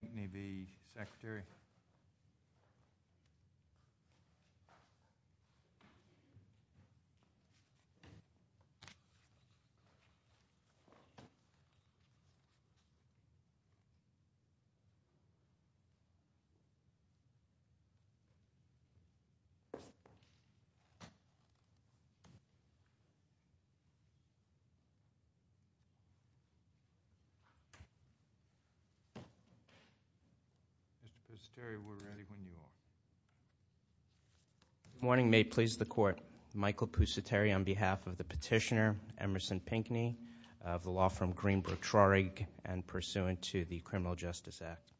Pinkney v. Secretary. Mr. Pusateri, we're ready when you are. Good morning. May it please the Court. Michael Pusateri on behalf of the petitioner, Emerson Pinkney, of the law firm Greenberg-Trarig and pursuant to the Criminal Justice Act.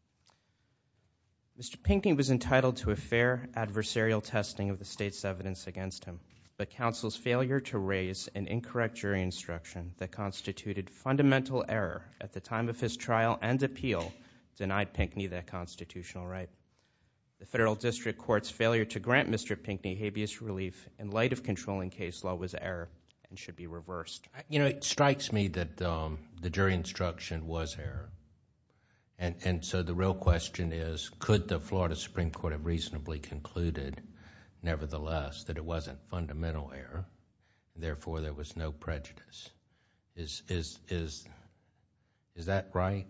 Mr. Pinkney was entitled to a fair adversarial testing of the state's evidence against him, but counsel's failure to raise an incorrect jury instruction that constituted fundamental error at the time of his trial and appeal denied Pinkney that constitutional right. The Federal District Court's failure to grant Mr. Pinkney habeas relief in light of controlling case law was error and should be reversed. You know, it strikes me that the jury instruction was error. And so the real question is, could the Florida Supreme Court have reasonably concluded, nevertheless, that it wasn't fundamental error, and therefore there was no prejudice? Is that right?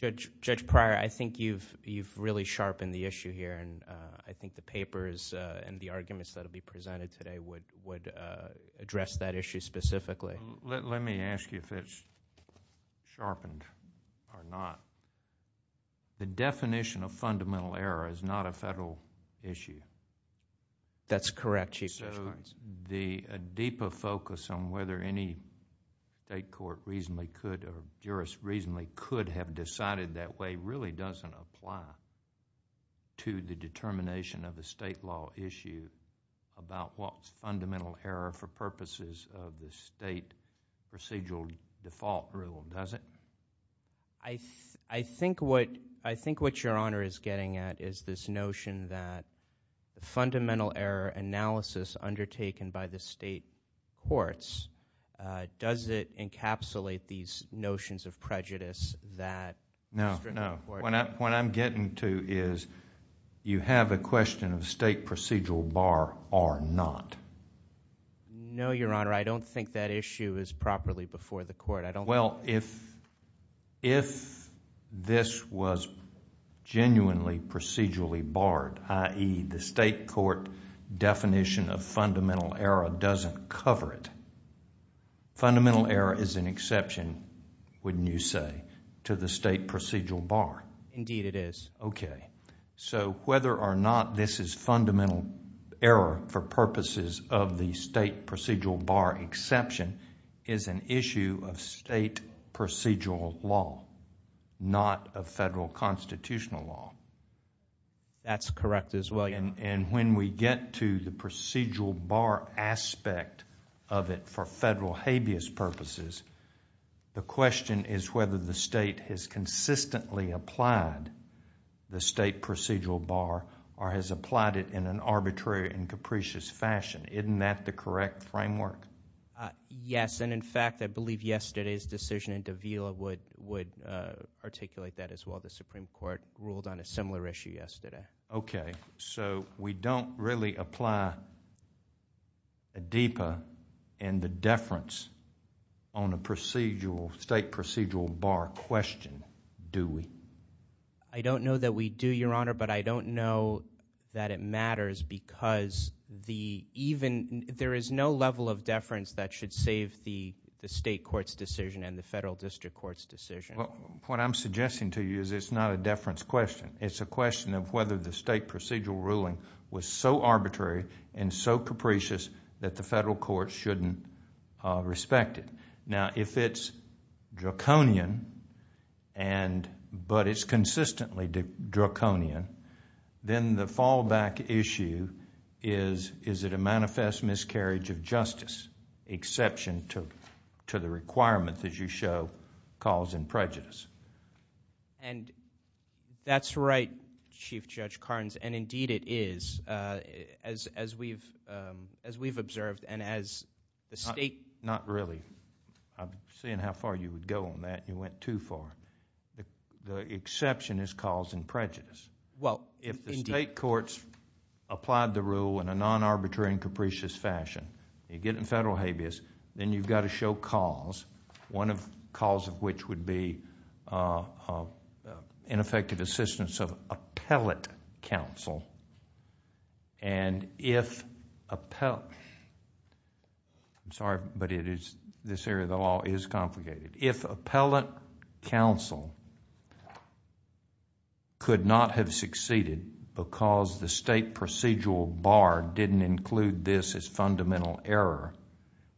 Judge Pryor, I think you've really sharpened the issue here, and I think the papers and the arguments that will be presented today would address that issue specifically. Let me ask you if it's sharpened or not. The definition of fundamental error is not a Federal issue. That's correct, Chief Judge Pryor. So the deeper focus on whether any state court reasonably could or jurist reasonably could have decided that way really doesn't apply to the determination of a state law issue about what's fundamental error for purposes of the state procedural default rule, does it? I think what Your Honor is getting at is this notion that the fundamental error analysis undertaken by the state courts, does it encapsulate these notions of prejudice that the District Court... No, no. What I'm getting to is you have a question of state procedural bar or not. No, Your Honor. Well, if this was genuinely procedurally barred, i.e. the state court definition of fundamental error doesn't cover it, fundamental error is an exception, wouldn't you say, to the state procedural bar? Indeed it is. Okay. So whether or not this is fundamental error for purposes of the state procedural bar exception is an issue of state procedural law, not of Federal constitutional law. That's correct as well. And when we get to the procedural bar aspect of it for Federal habeas purposes, the question is whether the state has consistently applied the state procedural bar or has applied it in an arbitrary and capricious fashion. Isn't that the correct framework? Yes, and in fact, I believe yesterday's decision in Davila would articulate that as well. The Supreme Court ruled on a similar issue yesterday. Okay. So we don't really apply ADEPA and the deference on a state procedural bar question, do we? I don't know that we do, Your Honor, but I don't know that it matters because there is no level of deference that should save the state court's decision and the Federal district court's decision. What I'm suggesting to you is it's not a deference question. It's a question of whether the state procedural ruling was so arbitrary and so capricious that the Federal court shouldn't respect it. Now, if it's draconian, but it's consistently draconian, then the fallback issue is, is it a manifest miscarriage of justice, exception to the requirement that you show, cause and prejudice. And that's right, Chief Judge Carnes, and indeed it is, as we've observed and as the state... Not really. I'm seeing how far you would go on that. You went too far. The exception is cause and prejudice. Well, indeed. If the state courts applied the rule in a non-arbitrary and capricious fashion, you get in Federal habeas, then you've got to show cause, one cause of which would be ineffective assistance of appellate counsel. And if... I'm sorry, but this area of the law is complicated. If appellate counsel could not have succeeded because the state procedural bar didn't include this as fundamental error,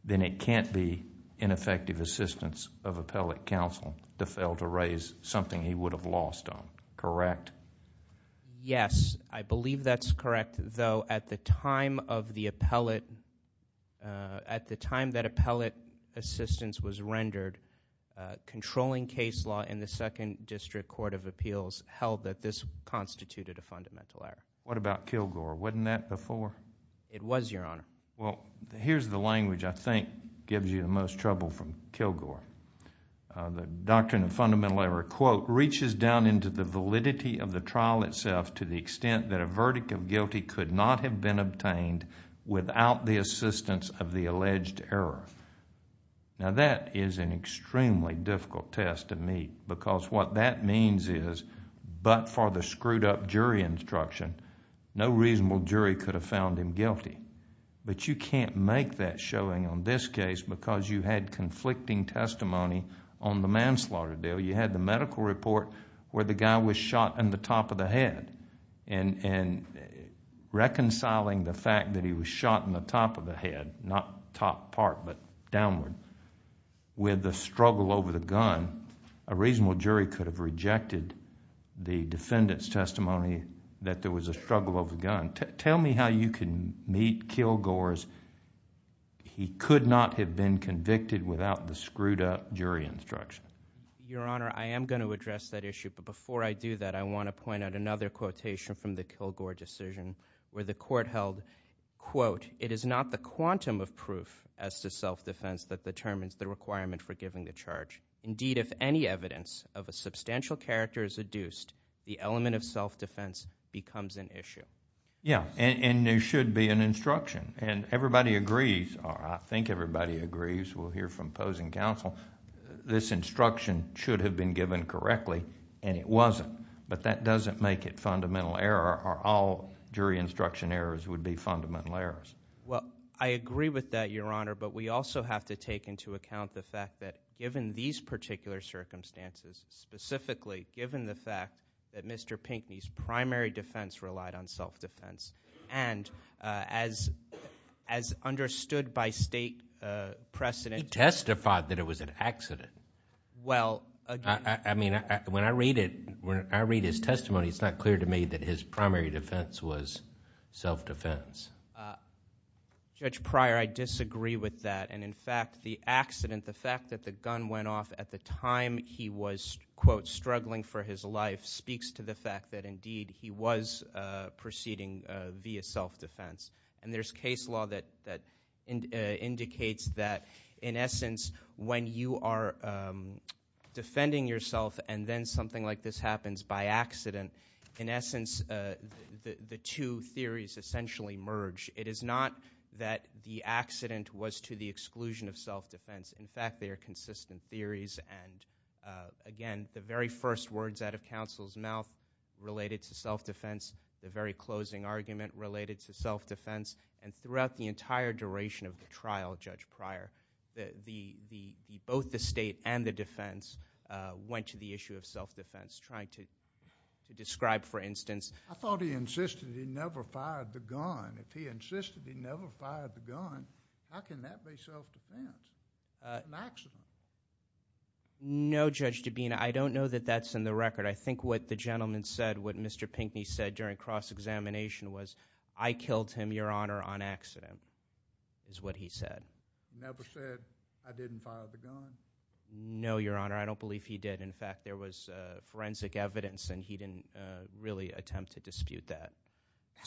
then it can't be ineffective assistance of appellate counsel to fail to raise something he would have lost on, correct? Yes, I believe that's correct, though at the time of the appellate... At the time that appellate assistance was rendered, controlling case law in the Second District Court of Appeals held that this constituted a fundamental error. What about Kilgore? Wasn't that before? It was, Your Honor. Well, here's the language I think gives you the most trouble from Kilgore. The doctrine of fundamental error, quote, reaches down into the validity of the trial itself to the extent that a verdict of guilty could not have been obtained without the assistance of the alleged error. Now, that is an extremely difficult test to meet because what that means is but for the screwed up jury instruction, no reasonable jury could have found him guilty. But you can't make that showing on this case because you had conflicting testimony on the manslaughter deal. You had the medical report where the guy was shot in the top of the head. Reconciling the fact that he was shot in the top of the head, not top part but downward, with the struggle over the gun, a reasonable jury could have rejected the defendant's testimony that there was a struggle over the gun. Tell me how you can meet Kilgore's he could not have been convicted without the screwed up jury instruction. Your Honor, I am going to address that issue. But before I do that, I want to point out another quotation from the Kilgore decision where the court held, quote, it is not the quantum of proof as to self-defense that determines the requirement for giving the charge. Indeed, if any evidence of a substantial character is adduced, the element of self-defense becomes an issue. Yeah, and there should be an instruction. And everybody agrees, or I think everybody agrees, we'll hear from Posey and counsel, this instruction should have been given correctly and it wasn't. But that doesn't make it fundamental error or all jury instruction errors would be fundamental errors. Well, I agree with that, Your Honor. But we also have to take into account the fact that given these particular circumstances, specifically given the fact that Mr. Pinckney's primary defense relied on self-defense, and as understood by state precedent... He testified that it was an accident. Well, again... I mean, when I read it, when I read his testimony, it's not clear to me that his primary defense was self-defense. Judge Pryor, I disagree with that. And in fact, the accident, the fact that the gun went off at the time he was, quote, struggling for his life speaks to the fact that indeed he was proceeding via self-defense. And there's case law that indicates that, in essence, when you are defending yourself and then something like this happens by accident, in essence, the two theories essentially merge. It is not that the accident was to the exclusion of self-defense. In fact, they are consistent theories. And again, the very first words out of counsel's mouth related to self-defense, the very closing argument related to self-defense, and throughout the entire duration of the trial, Judge Pryor, both the state and the defense went to the issue of self-defense, trying to describe, for instance... I thought he insisted he never fired the gun. If he insisted he never fired the gun, how can that be self-defense, an accident? No, Judge Dabena, I don't know that that's in the record. I think what the gentleman said, what Mr. Pinckney said during cross-examination was, I killed him, Your Honor, on accident, is what he said. He never said, I didn't fire the gun? No, Your Honor, I don't believe he did. In fact, there was forensic evidence, and he didn't really attempt to dispute that.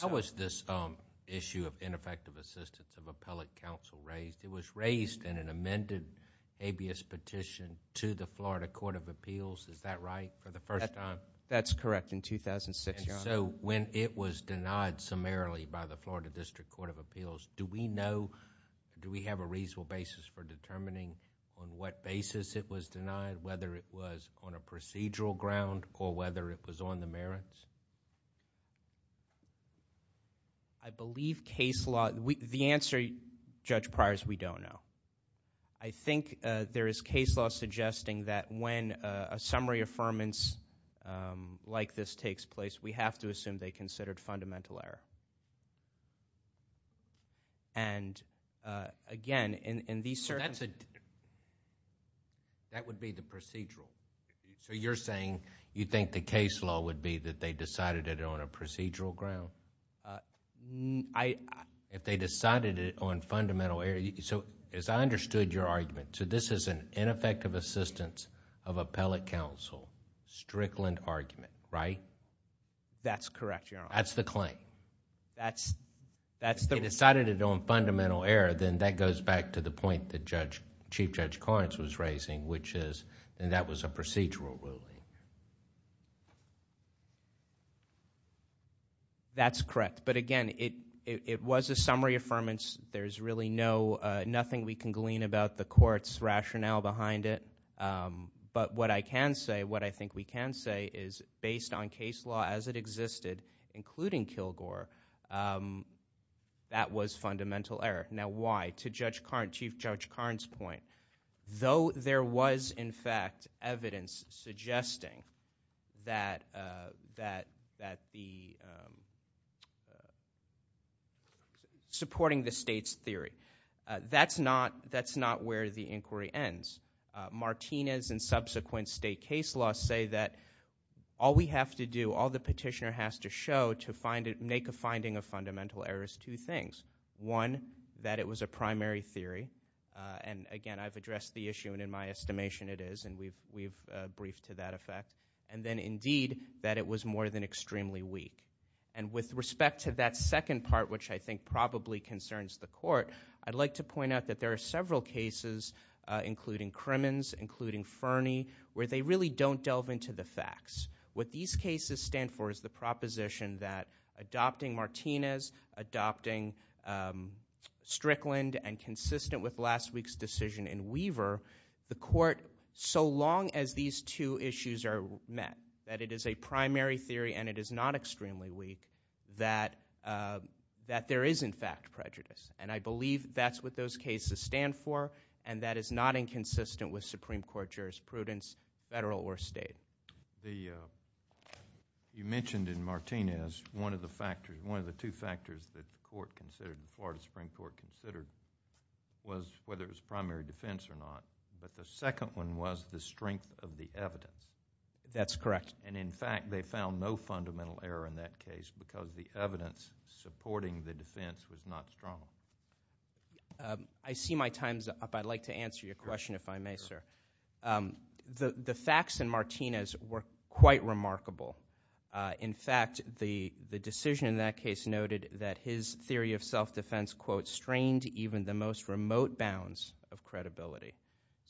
How was this issue of ineffective assistance of appellate counsel raised? It was raised in an amended habeas petition to the Florida Court of Appeals, is that right? For the first time? That's correct, in 2006, Your Honor. So, when it was denied summarily by the Florida District Court of Appeals, do we know, do we have a reasonable basis for determining on what basis it was denied, whether it was on a procedural ground or whether it was on the merits? I believe case law... the answer, Judge Pryor, is we don't know. I think there is case law suggesting that when a summary affirmance like this takes place, we have to assume they considered fundamental error. And, again, in these circumstances... That would be the procedural. So you're saying you think the case law would be that they decided it on a procedural ground? If they decided it on fundamental error... So, as I understood your argument, so this is an ineffective assistance of appellate counsel, Strickland argument, right? That's correct, Your Honor. That's the claim? That's the... If they decided it on fundamental error, then that goes back to the point that Chief Judge Korins was raising, which is that was a procedural ruling. That's correct. But, again, it was a summary affirmance. There's really nothing we can glean about the court's rationale behind it. But what I can say, what I think we can say is based on case law as it existed, including Kilgore, that was fundamental error. Now, why? To Chief Judge Korins' point, though there was, in fact, evidence suggesting that the... Supporting the state's theory. That's not where the inquiry ends. Martinez and subsequent state case laws say that all we have to do, all the petitioner has to show to make a finding of fundamental error is two things. One, that it was a primary theory. And, again, I've addressed the issue, and in my estimation it is, and we've briefed to that effect. And then, indeed, that it was more than extremely weak. And with respect to that second part, which I think probably concerns the court, I'd like to point out that there are several cases, including Krimen's, including Ferney, where they really don't delve into the facts. What these cases stand for is the proposition that adopting Martinez, adopting Strickland, and consistent with last week's decision in Weaver, the court, so long as these two issues are met, that it is a primary theory and it is not extremely weak, that there is, in fact, prejudice. And I believe that's what those cases stand for, and that is not inconsistent with Supreme Court jurisprudence, federal or state. So you mentioned in Martinez one of the factors, one of the two factors that the court considered, the Florida Supreme Court considered, was whether it was primary defense or not. But the second one was the strength of the evidence. That's correct. And, in fact, they found no fundamental error in that case because the evidence supporting the defense was not strong. I see my time's up. I'd like to answer your question if I may, sir. The facts in Martinez were quite remarkable. In fact, the decision in that case noted that his theory of self-defense, quote, strained even the most remote bounds of credibility.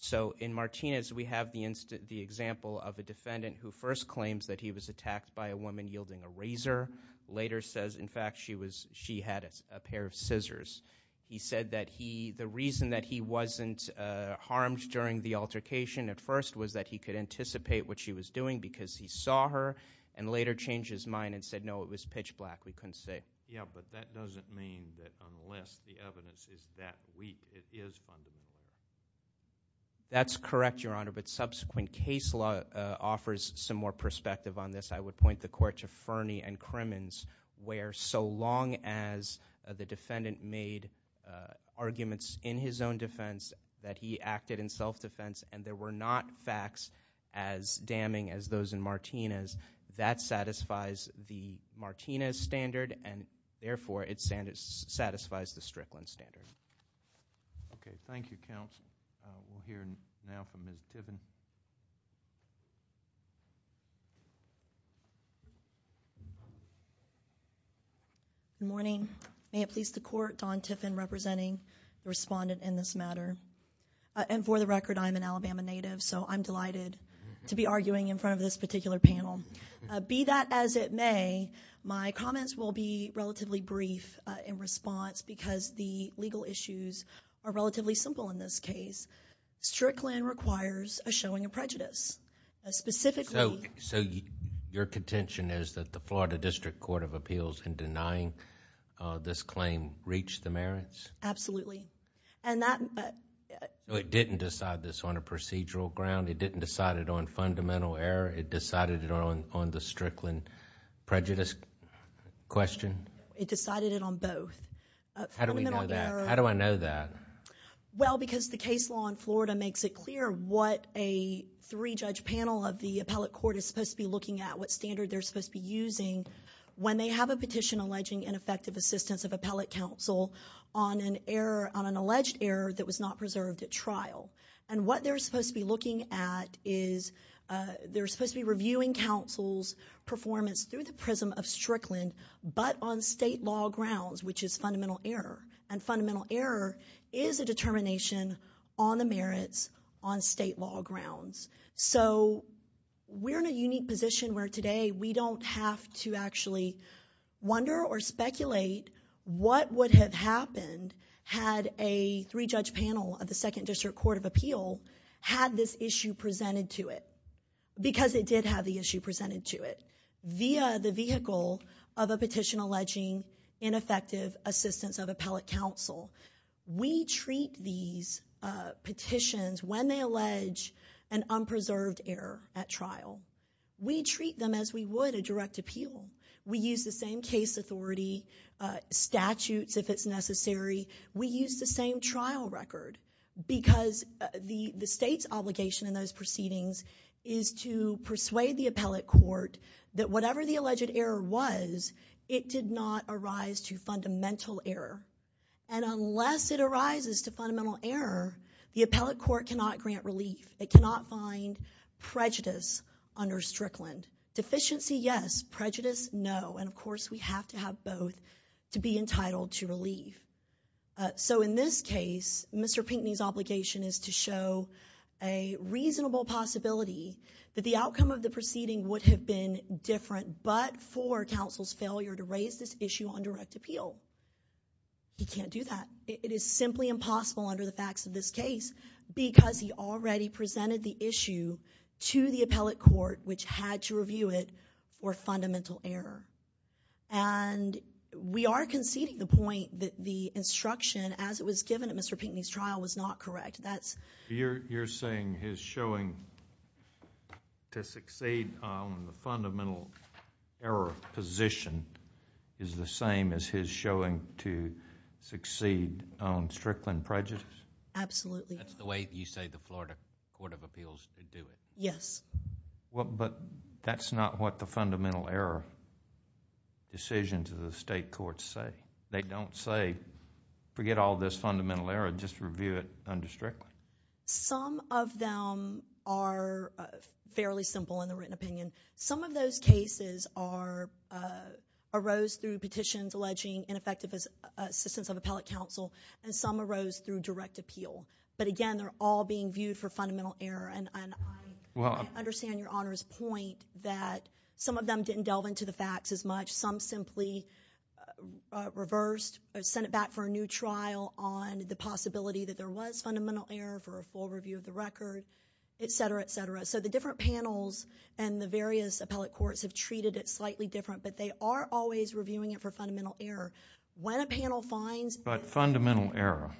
So in Martinez, we have the example of a defendant who first claims that he was attacked by a woman yielding a razor, later says, in fact, she had a pair of scissors. He said that the reason that he wasn't harmed during the altercation at first was that he could anticipate what she was doing because he saw her and later changed his mind and said, no, it was pitch black. We couldn't say. Yeah, but that doesn't mean that unless the evidence is that weak, it is fundamental. That's correct, Your Honor, but subsequent case law offers some more perspective on this. I would point the court to Fernie and Crimmins where so long as the defendant made arguments in his own defense that he acted in self-defense and there were not facts as damning as those in Martinez, that satisfies the Martinez standard and, therefore, it satisfies the Strickland standard. Okay. Thank you, counsel. We'll hear now from Ms. Tiffin. Good morning. May it please the court, Don Tiffin representing the respondent in this matter. And for the record, I'm an Alabama native, so I'm delighted to be arguing in front of this particular panel. Be that as it may, my comments will be relatively brief in response because the legal issues are relatively simple in this case. Strickland requires a showing of prejudice. Specifically... So your contention is that the Florida District Court of Appeals in denying this claim reached the merits? Absolutely. And that... It didn't decide this on a procedural ground. It didn't decide it on fundamental error. It decided it on the Strickland prejudice question? It decided it on both. How do we know that? How do I know that? Well, because the case law in Florida makes it clear what a three-judge panel of the appellate court is supposed to be looking at, what standard they're supposed to be using when they have a petition alleging ineffective assistance of appellate counsel on an error, on an alleged error that was not preserved at trial. And what they're supposed to be looking at is they're supposed to be reviewing counsel's performance through the prism of Strickland, but on state law grounds, which is fundamental error. And fundamental error is a determination on the merits on state law grounds. So we're in a unique position where today we don't have to actually wonder or speculate what would have happened had a three-judge panel of the Second District Court of Appeal had this issue presented to it, because it did have the issue presented to it via the vehicle of a petition alleging ineffective assistance of appellate counsel. We treat these petitions when they allege an unpreserved error at trial. We treat them as we would a direct appeal. We use the same case authority statutes if it's necessary. We use the same trial record because the state's obligation in those proceedings is to persuade the appellate court that whatever the alleged error was, it did not arise to fundamental error. And unless it arises to fundamental error, the appellate court cannot grant relief. It cannot find prejudice under Strickland. Deficiency, yes. Prejudice, no. And, of course, we have to have both to be entitled to relief. So in this case, Mr. Pinckney's obligation is to show a reasonable possibility that the outcome of the proceeding would have been different, but for counsel's failure to raise this issue on direct appeal. He can't do that. It is simply impossible under the facts of this case because he already presented the issue to the appellate court, which had to review it for fundamental error. And we are conceding the point that the instruction as it was given at Mr. Pinckney's trial was not correct. You're saying his showing to succeed on the fundamental error position is the same as his showing to succeed on Strickland prejudice? Absolutely. That's the way you say the Florida Court of Appeals would do it? Yes. But that's not what the fundamental error decisions of the state courts say. They don't say, forget all this fundamental error, just review it under Strickland? Some of them are fairly simple in the written opinion. Some of those cases arose through petitions alleging ineffective assistance of appellate counsel, and some arose through direct appeal. But, again, they're all being viewed for fundamental error, and I understand Your Honor's point that some of them didn't delve into the facts as much. Some simply reversed or sent it back for a new trial on the possibility that there was fundamental error for a full review of the record, et cetera, et cetera. So the different panels and the various appellate courts have treated it slightly different, but they are always reviewing it for fundamental error. When a panel finds— But fundamental error,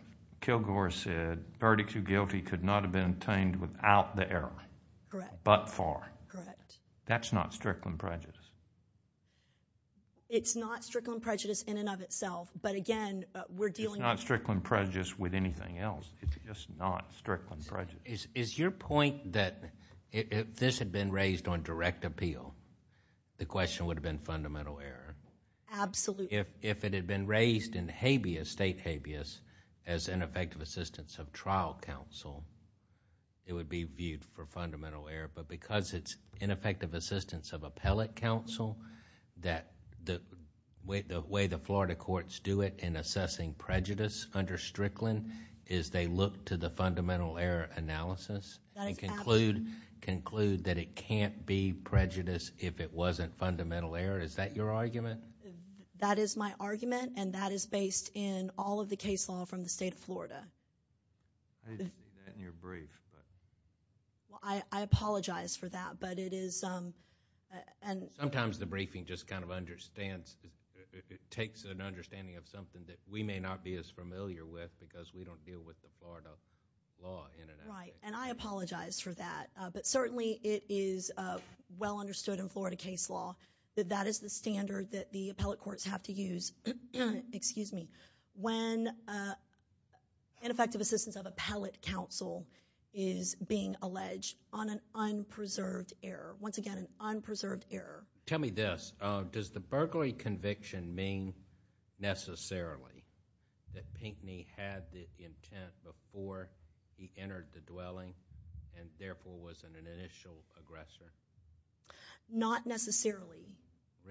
Kilgore said, verdict to guilty could not have been obtained without the error but for. Correct. That's not Strickland prejudice? It's not Strickland prejudice in and of itself, but, again, we're dealing with— It's not Strickland prejudice with anything else. It's just not Strickland prejudice. Is your point that if this had been raised on direct appeal, the question would have been fundamental error? Absolutely. If it had been raised in habeas, state habeas, as ineffective assistance of trial counsel, it would be viewed for fundamental error, but because it's ineffective assistance of appellate counsel, the way the Florida courts do it in assessing prejudice under Strickland is they look to the fundamental error analysis and conclude that it can't be prejudice if it wasn't fundamental error. Is that your argument? That is my argument, and that is based in all of the case law from the state of Florida. I didn't see that in your brief, but... I apologize for that, but it is... Sometimes the briefing just kind of understands. It takes an understanding of something that we may not be as familiar with because we don't deal with the Florida law in and of itself. Right, and I apologize for that, but certainly it is well understood in Florida case law that that is the standard that the appellate courts have to use when ineffective assistance of appellate counsel is being alleged on an unpreserved error. Once again, an unpreserved error. Tell me this. Does the burglary conviction mean necessarily that Pinckney had the intent before he entered the dwelling and therefore was an initial aggressor? Not necessarily.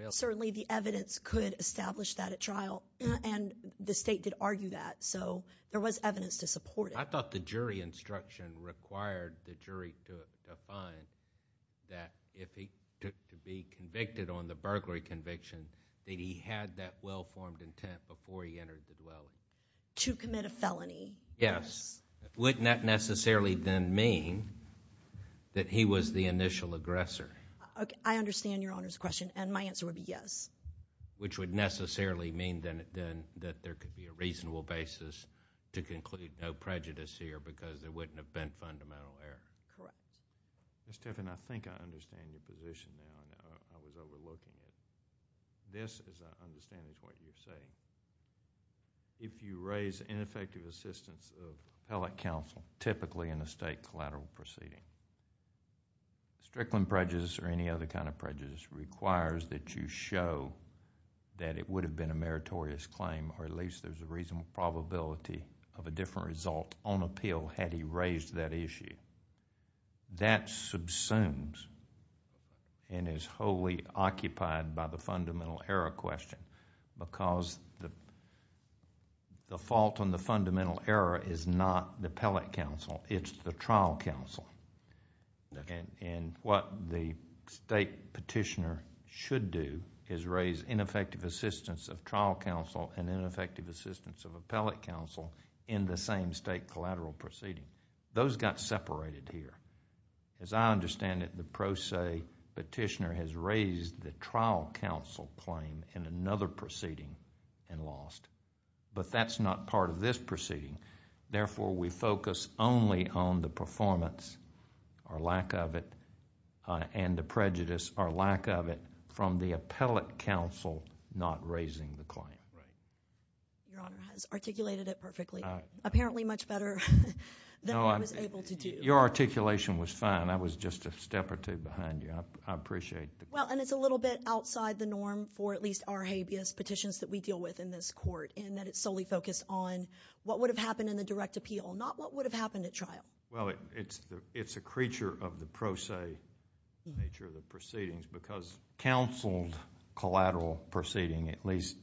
Certainly the evidence could establish that at trial, and the state did argue that, so there was evidence to support it. I thought the jury instruction required the jury to find that if he took to be convicted on the burglary conviction that he had that well-formed intent before he entered the dwelling. To commit a felony. Yes. Wouldn't that necessarily then mean that he was the initial aggressor? I understand Your Honor's question, and my answer would be yes. Which would necessarily mean then that there could be a reasonable basis to conclude no prejudice here because there wouldn't have been fundamental error. Correct. Ms. Tiffin, I think I understand your position now. I was overlooking it. This, as I understand it, is what you're saying. If you raise ineffective assistance of appellate counsel, typically in a state collateral proceeding, strickland prejudice or any other kind of prejudice requires that you show that it would have been a meritorious claim or at least there's a reasonable probability of a different result on appeal had he raised that issue. That subsumes and is wholly occupied by the fundamental error question because the fault on the fundamental error is not the appellate counsel. It's the trial counsel. What the state petitioner should do is raise ineffective assistance of trial counsel and ineffective assistance of appellate counsel in the same state collateral proceeding. Those got separated here. As I understand it, the pro se petitioner has raised the trial counsel claim in another proceeding and lost. But that's not part of this proceeding. Therefore, we focus only on the performance or lack of it and the prejudice or lack of it from the appellate counsel not raising the claim. Your Honor has articulated it perfectly. Apparently much better than I was able to do. Your articulation was fine. I was just a step or two behind you. I appreciate the... It's a little bit outside the norm for at least our habeas petitions that we deal with in this court and that it's solely focused on what would have happened in the direct appeal, not what would have happened at trial. Well, it's a creature of the pro se nature of the proceedings because counseled collateral proceeding, at least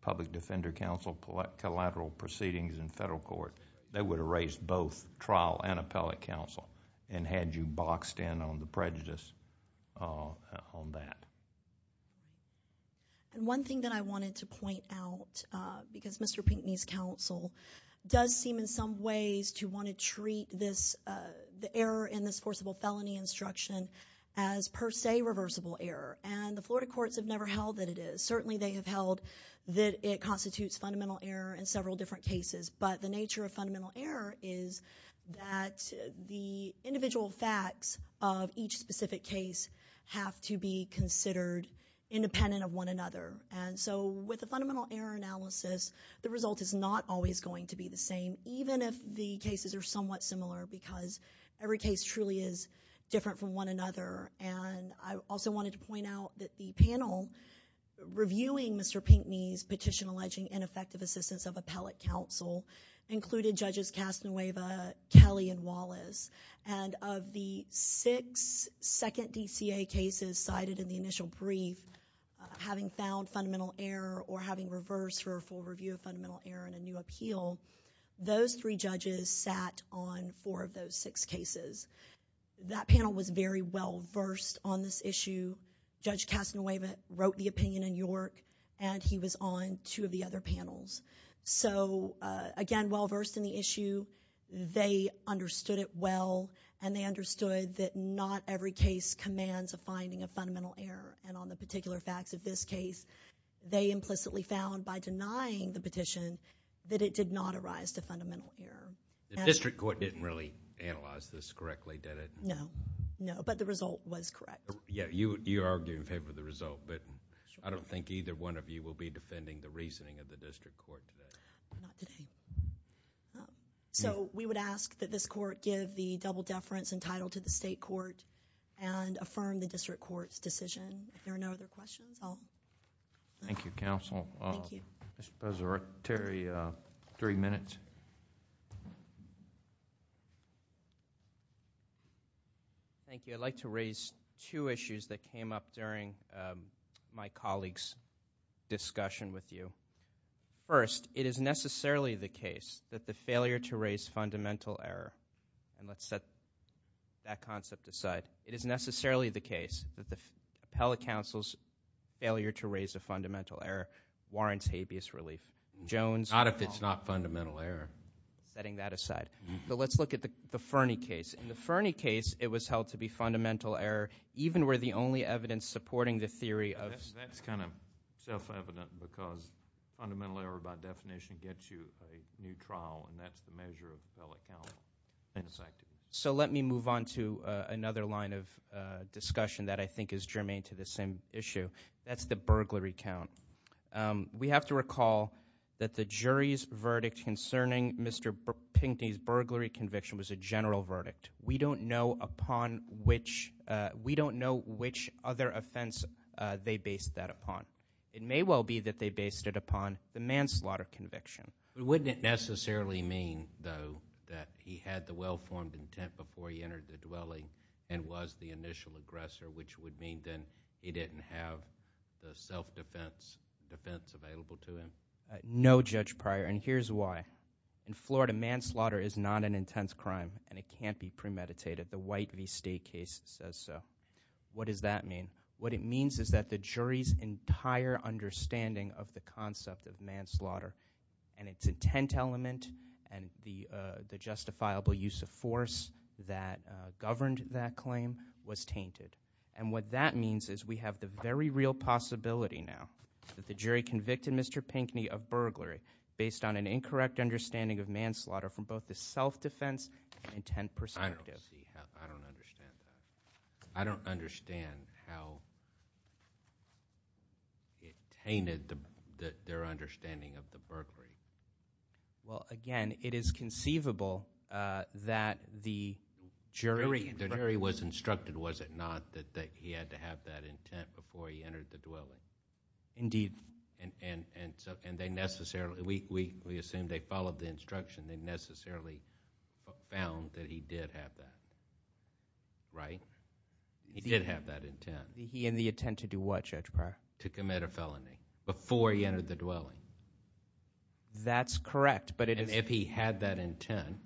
public defender counsel collateral proceedings in federal court, they would have raised both trial and appellate counsel and had you boxed in on the prejudice on that. One thing that I wanted to point out, because Mr. Pinckney's counsel does seem in some ways to want to treat the error in this forcible felony instruction as per se reversible error, and the Florida courts have never held that it is. Certainly they have held that it constitutes fundamental error in several different cases, but the nature of fundamental error is that the individual facts of each specific case have to be considered independent of one another. And so with a fundamental error analysis, the result is not always going to be the same, even if the cases are somewhat similar because every case truly is different from one another. And I also wanted to point out that the panel reviewing Mr. Pinckney's petition alleging ineffective assistance of appellate counsel included Judges Castanueva, Kelly, and Wallace, and of the six second DCA cases cited in the initial brief, having found fundamental error or having reversed for a full review of fundamental error in a new appeal, those three judges sat on four of those six cases. That panel was very well versed on this issue. Judge Castanueva wrote the opinion in York and he was on two of the other panels. So again, well versed in the issue. They understood it well and they understood that not every case commands a finding of fundamental error. And on the particular facts of this case, they implicitly found by denying the petition that it did not arise to fundamental error. The district court didn't really analyze this correctly, did it? No, no, but the result was correct. Yeah, you argue in favor of the result, but I don't think either one of you will be defending the reasoning of the district court today. So we would ask that this court give the double deference entitled to the state court and affirm the district court's decision. If there are no other questions, I'll... Thank you, counsel. Mr. Pezzarotti, three minutes. Thank you. I'd like to raise two issues that came up during my colleague's discussion with you. First, it is necessarily the case that the failure to raise fundamental error, and let's set that concept aside, it is necessarily the case that the appellate counsel's failure to raise a fundamental error warrants habeas relief. Not if it's not fundamental error. Setting that aside. But let's look at the Fernie case. In the Fernie case, it was held to be fundamental error even where the only evidence supporting the theory of... That's kind of self-evident because fundamental error by definition gets you a new trial and that's the measure of appellate counsel. So let me move on to another line of discussion that I think is germane to this same issue. That's the burglary count. We have to recall that the jury's verdict concerning Mr. Pinkney's burglary conviction was a general verdict. We don't know upon which... It may well be that they based it upon the manslaughter conviction. No, Judge Pryor, and here's why. In Florida, manslaughter is not an intense crime and it can't be premeditated. The White v. State case says so. What does that mean? What it means is that the jury's entire understanding of the concept of manslaughter and its intent element and the justifiable use of force that governed that claim was tainted. And what that means is we have the very real possibility now that the jury convicted Mr. Pinkney of burglary based on an incorrect understanding of manslaughter from both the self-defense and intent perspective. I don't understand that. How it tainted their understanding of the burglary. Well, again, it is conceivable that the jury... The jury was instructed, was it not, that he had to have that intent before he entered the dwelling. Indeed. And they necessarily... We assume they followed the instruction. They necessarily found that he did have that, right? He did have that intent. He had the intent to do what, Judge Pryor? To commit a felony before he entered the dwelling. That's correct, but it is... And if he had that intent,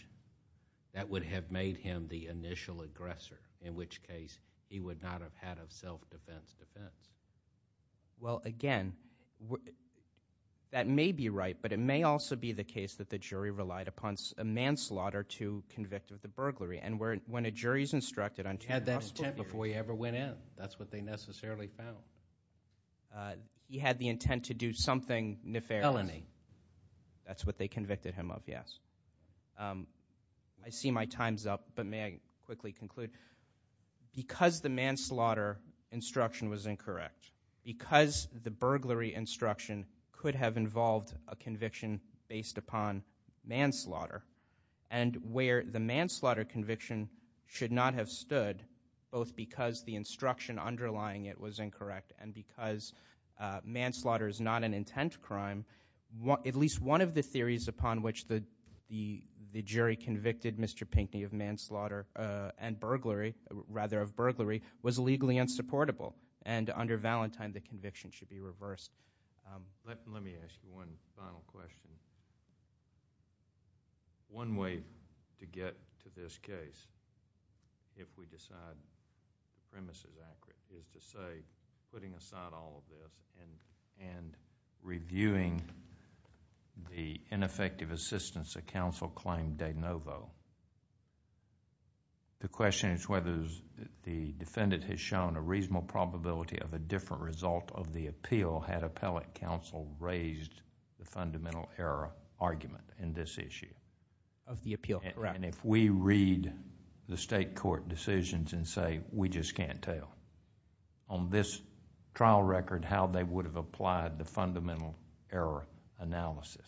that would have made him the initial aggressor, in which case he would not have had a self-defense defense. Well, again, that may be right, but it may also be the case that the jury relied upon a manslaughter to convict of the burglary. And when a jury is instructed... He had that intent before he ever went in. That's what they necessarily found. He had the intent to do something nefarious. Felony. That's what they convicted him of, yes. I see my time's up, but may I quickly conclude? Because the manslaughter instruction was incorrect, because the burglary instruction could have involved a conviction based upon manslaughter, and where the manslaughter conviction should not have stood, both because the instruction underlying it was incorrect and because manslaughter is not an intent crime, at least one of the theories upon which the jury convicted Mr. Pinckney of manslaughter and burglary, rather of burglary, was legally unsupportable. And under Valentine, the conviction should be reversed. Let me ask you one final question. One way to get to this case, if we decide the premise is accurate, is to say, putting aside all of this and reviewing the ineffective assistance that counsel claimed de novo. The question is whether the defendant has shown a reasonable probability of a different result of the appeal had appellate counsel raised the fundamental error argument in this issue. Of the appeal, correct. And if we read the state court decisions and say, we just can't tell. On this trial record, how they would have applied the fundamental error analysis.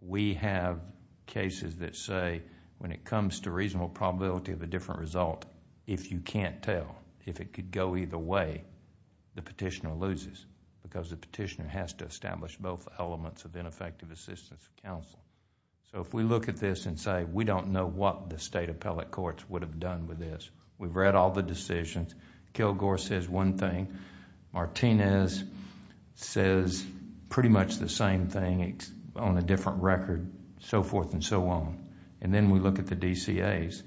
We have cases that say, when it comes to reasonable probability of a different result, if you can't tell, if it could go either way, the petitioner loses. Because the petitioner has to establish both elements of ineffective assistance of counsel. So if we look at this and say, we don't know what the state appellate courts would have done with this. We've read all the decisions. Kilgore says one thing. Martinez says pretty much the same thing on a different record. So forth and so on. And then we look at the DCAs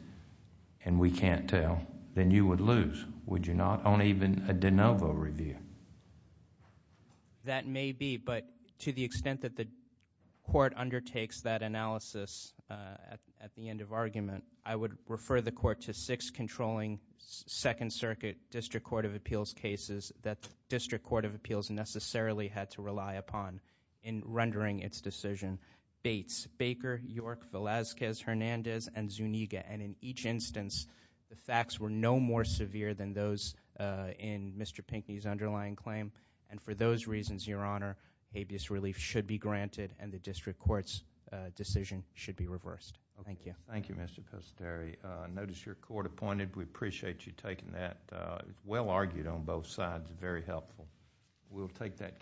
and we can't tell. Then you would lose. Would you not? On even a de novo review. That may be. But to the extent that the court undertakes that analysis at the end of argument, I would refer the court to six controlling Second Circuit District Court of Appeals cases that the District Court of Appeals necessarily had to rely upon in rendering its decision. Bates, Baker, York, Velazquez, Hernandez, and Zuniga. And in each instance, the facts were no more severe than those in Mr. Pinckney's underlying claim. And for those reasons, Your Honor, habeas relief should be granted and the District Court's decision should be reversed. Thank you. Thank you, Mr. Costeri. Notice you're court appointed. We appreciate you taking that. Well argued on both sides. Very helpful. We'll take that case.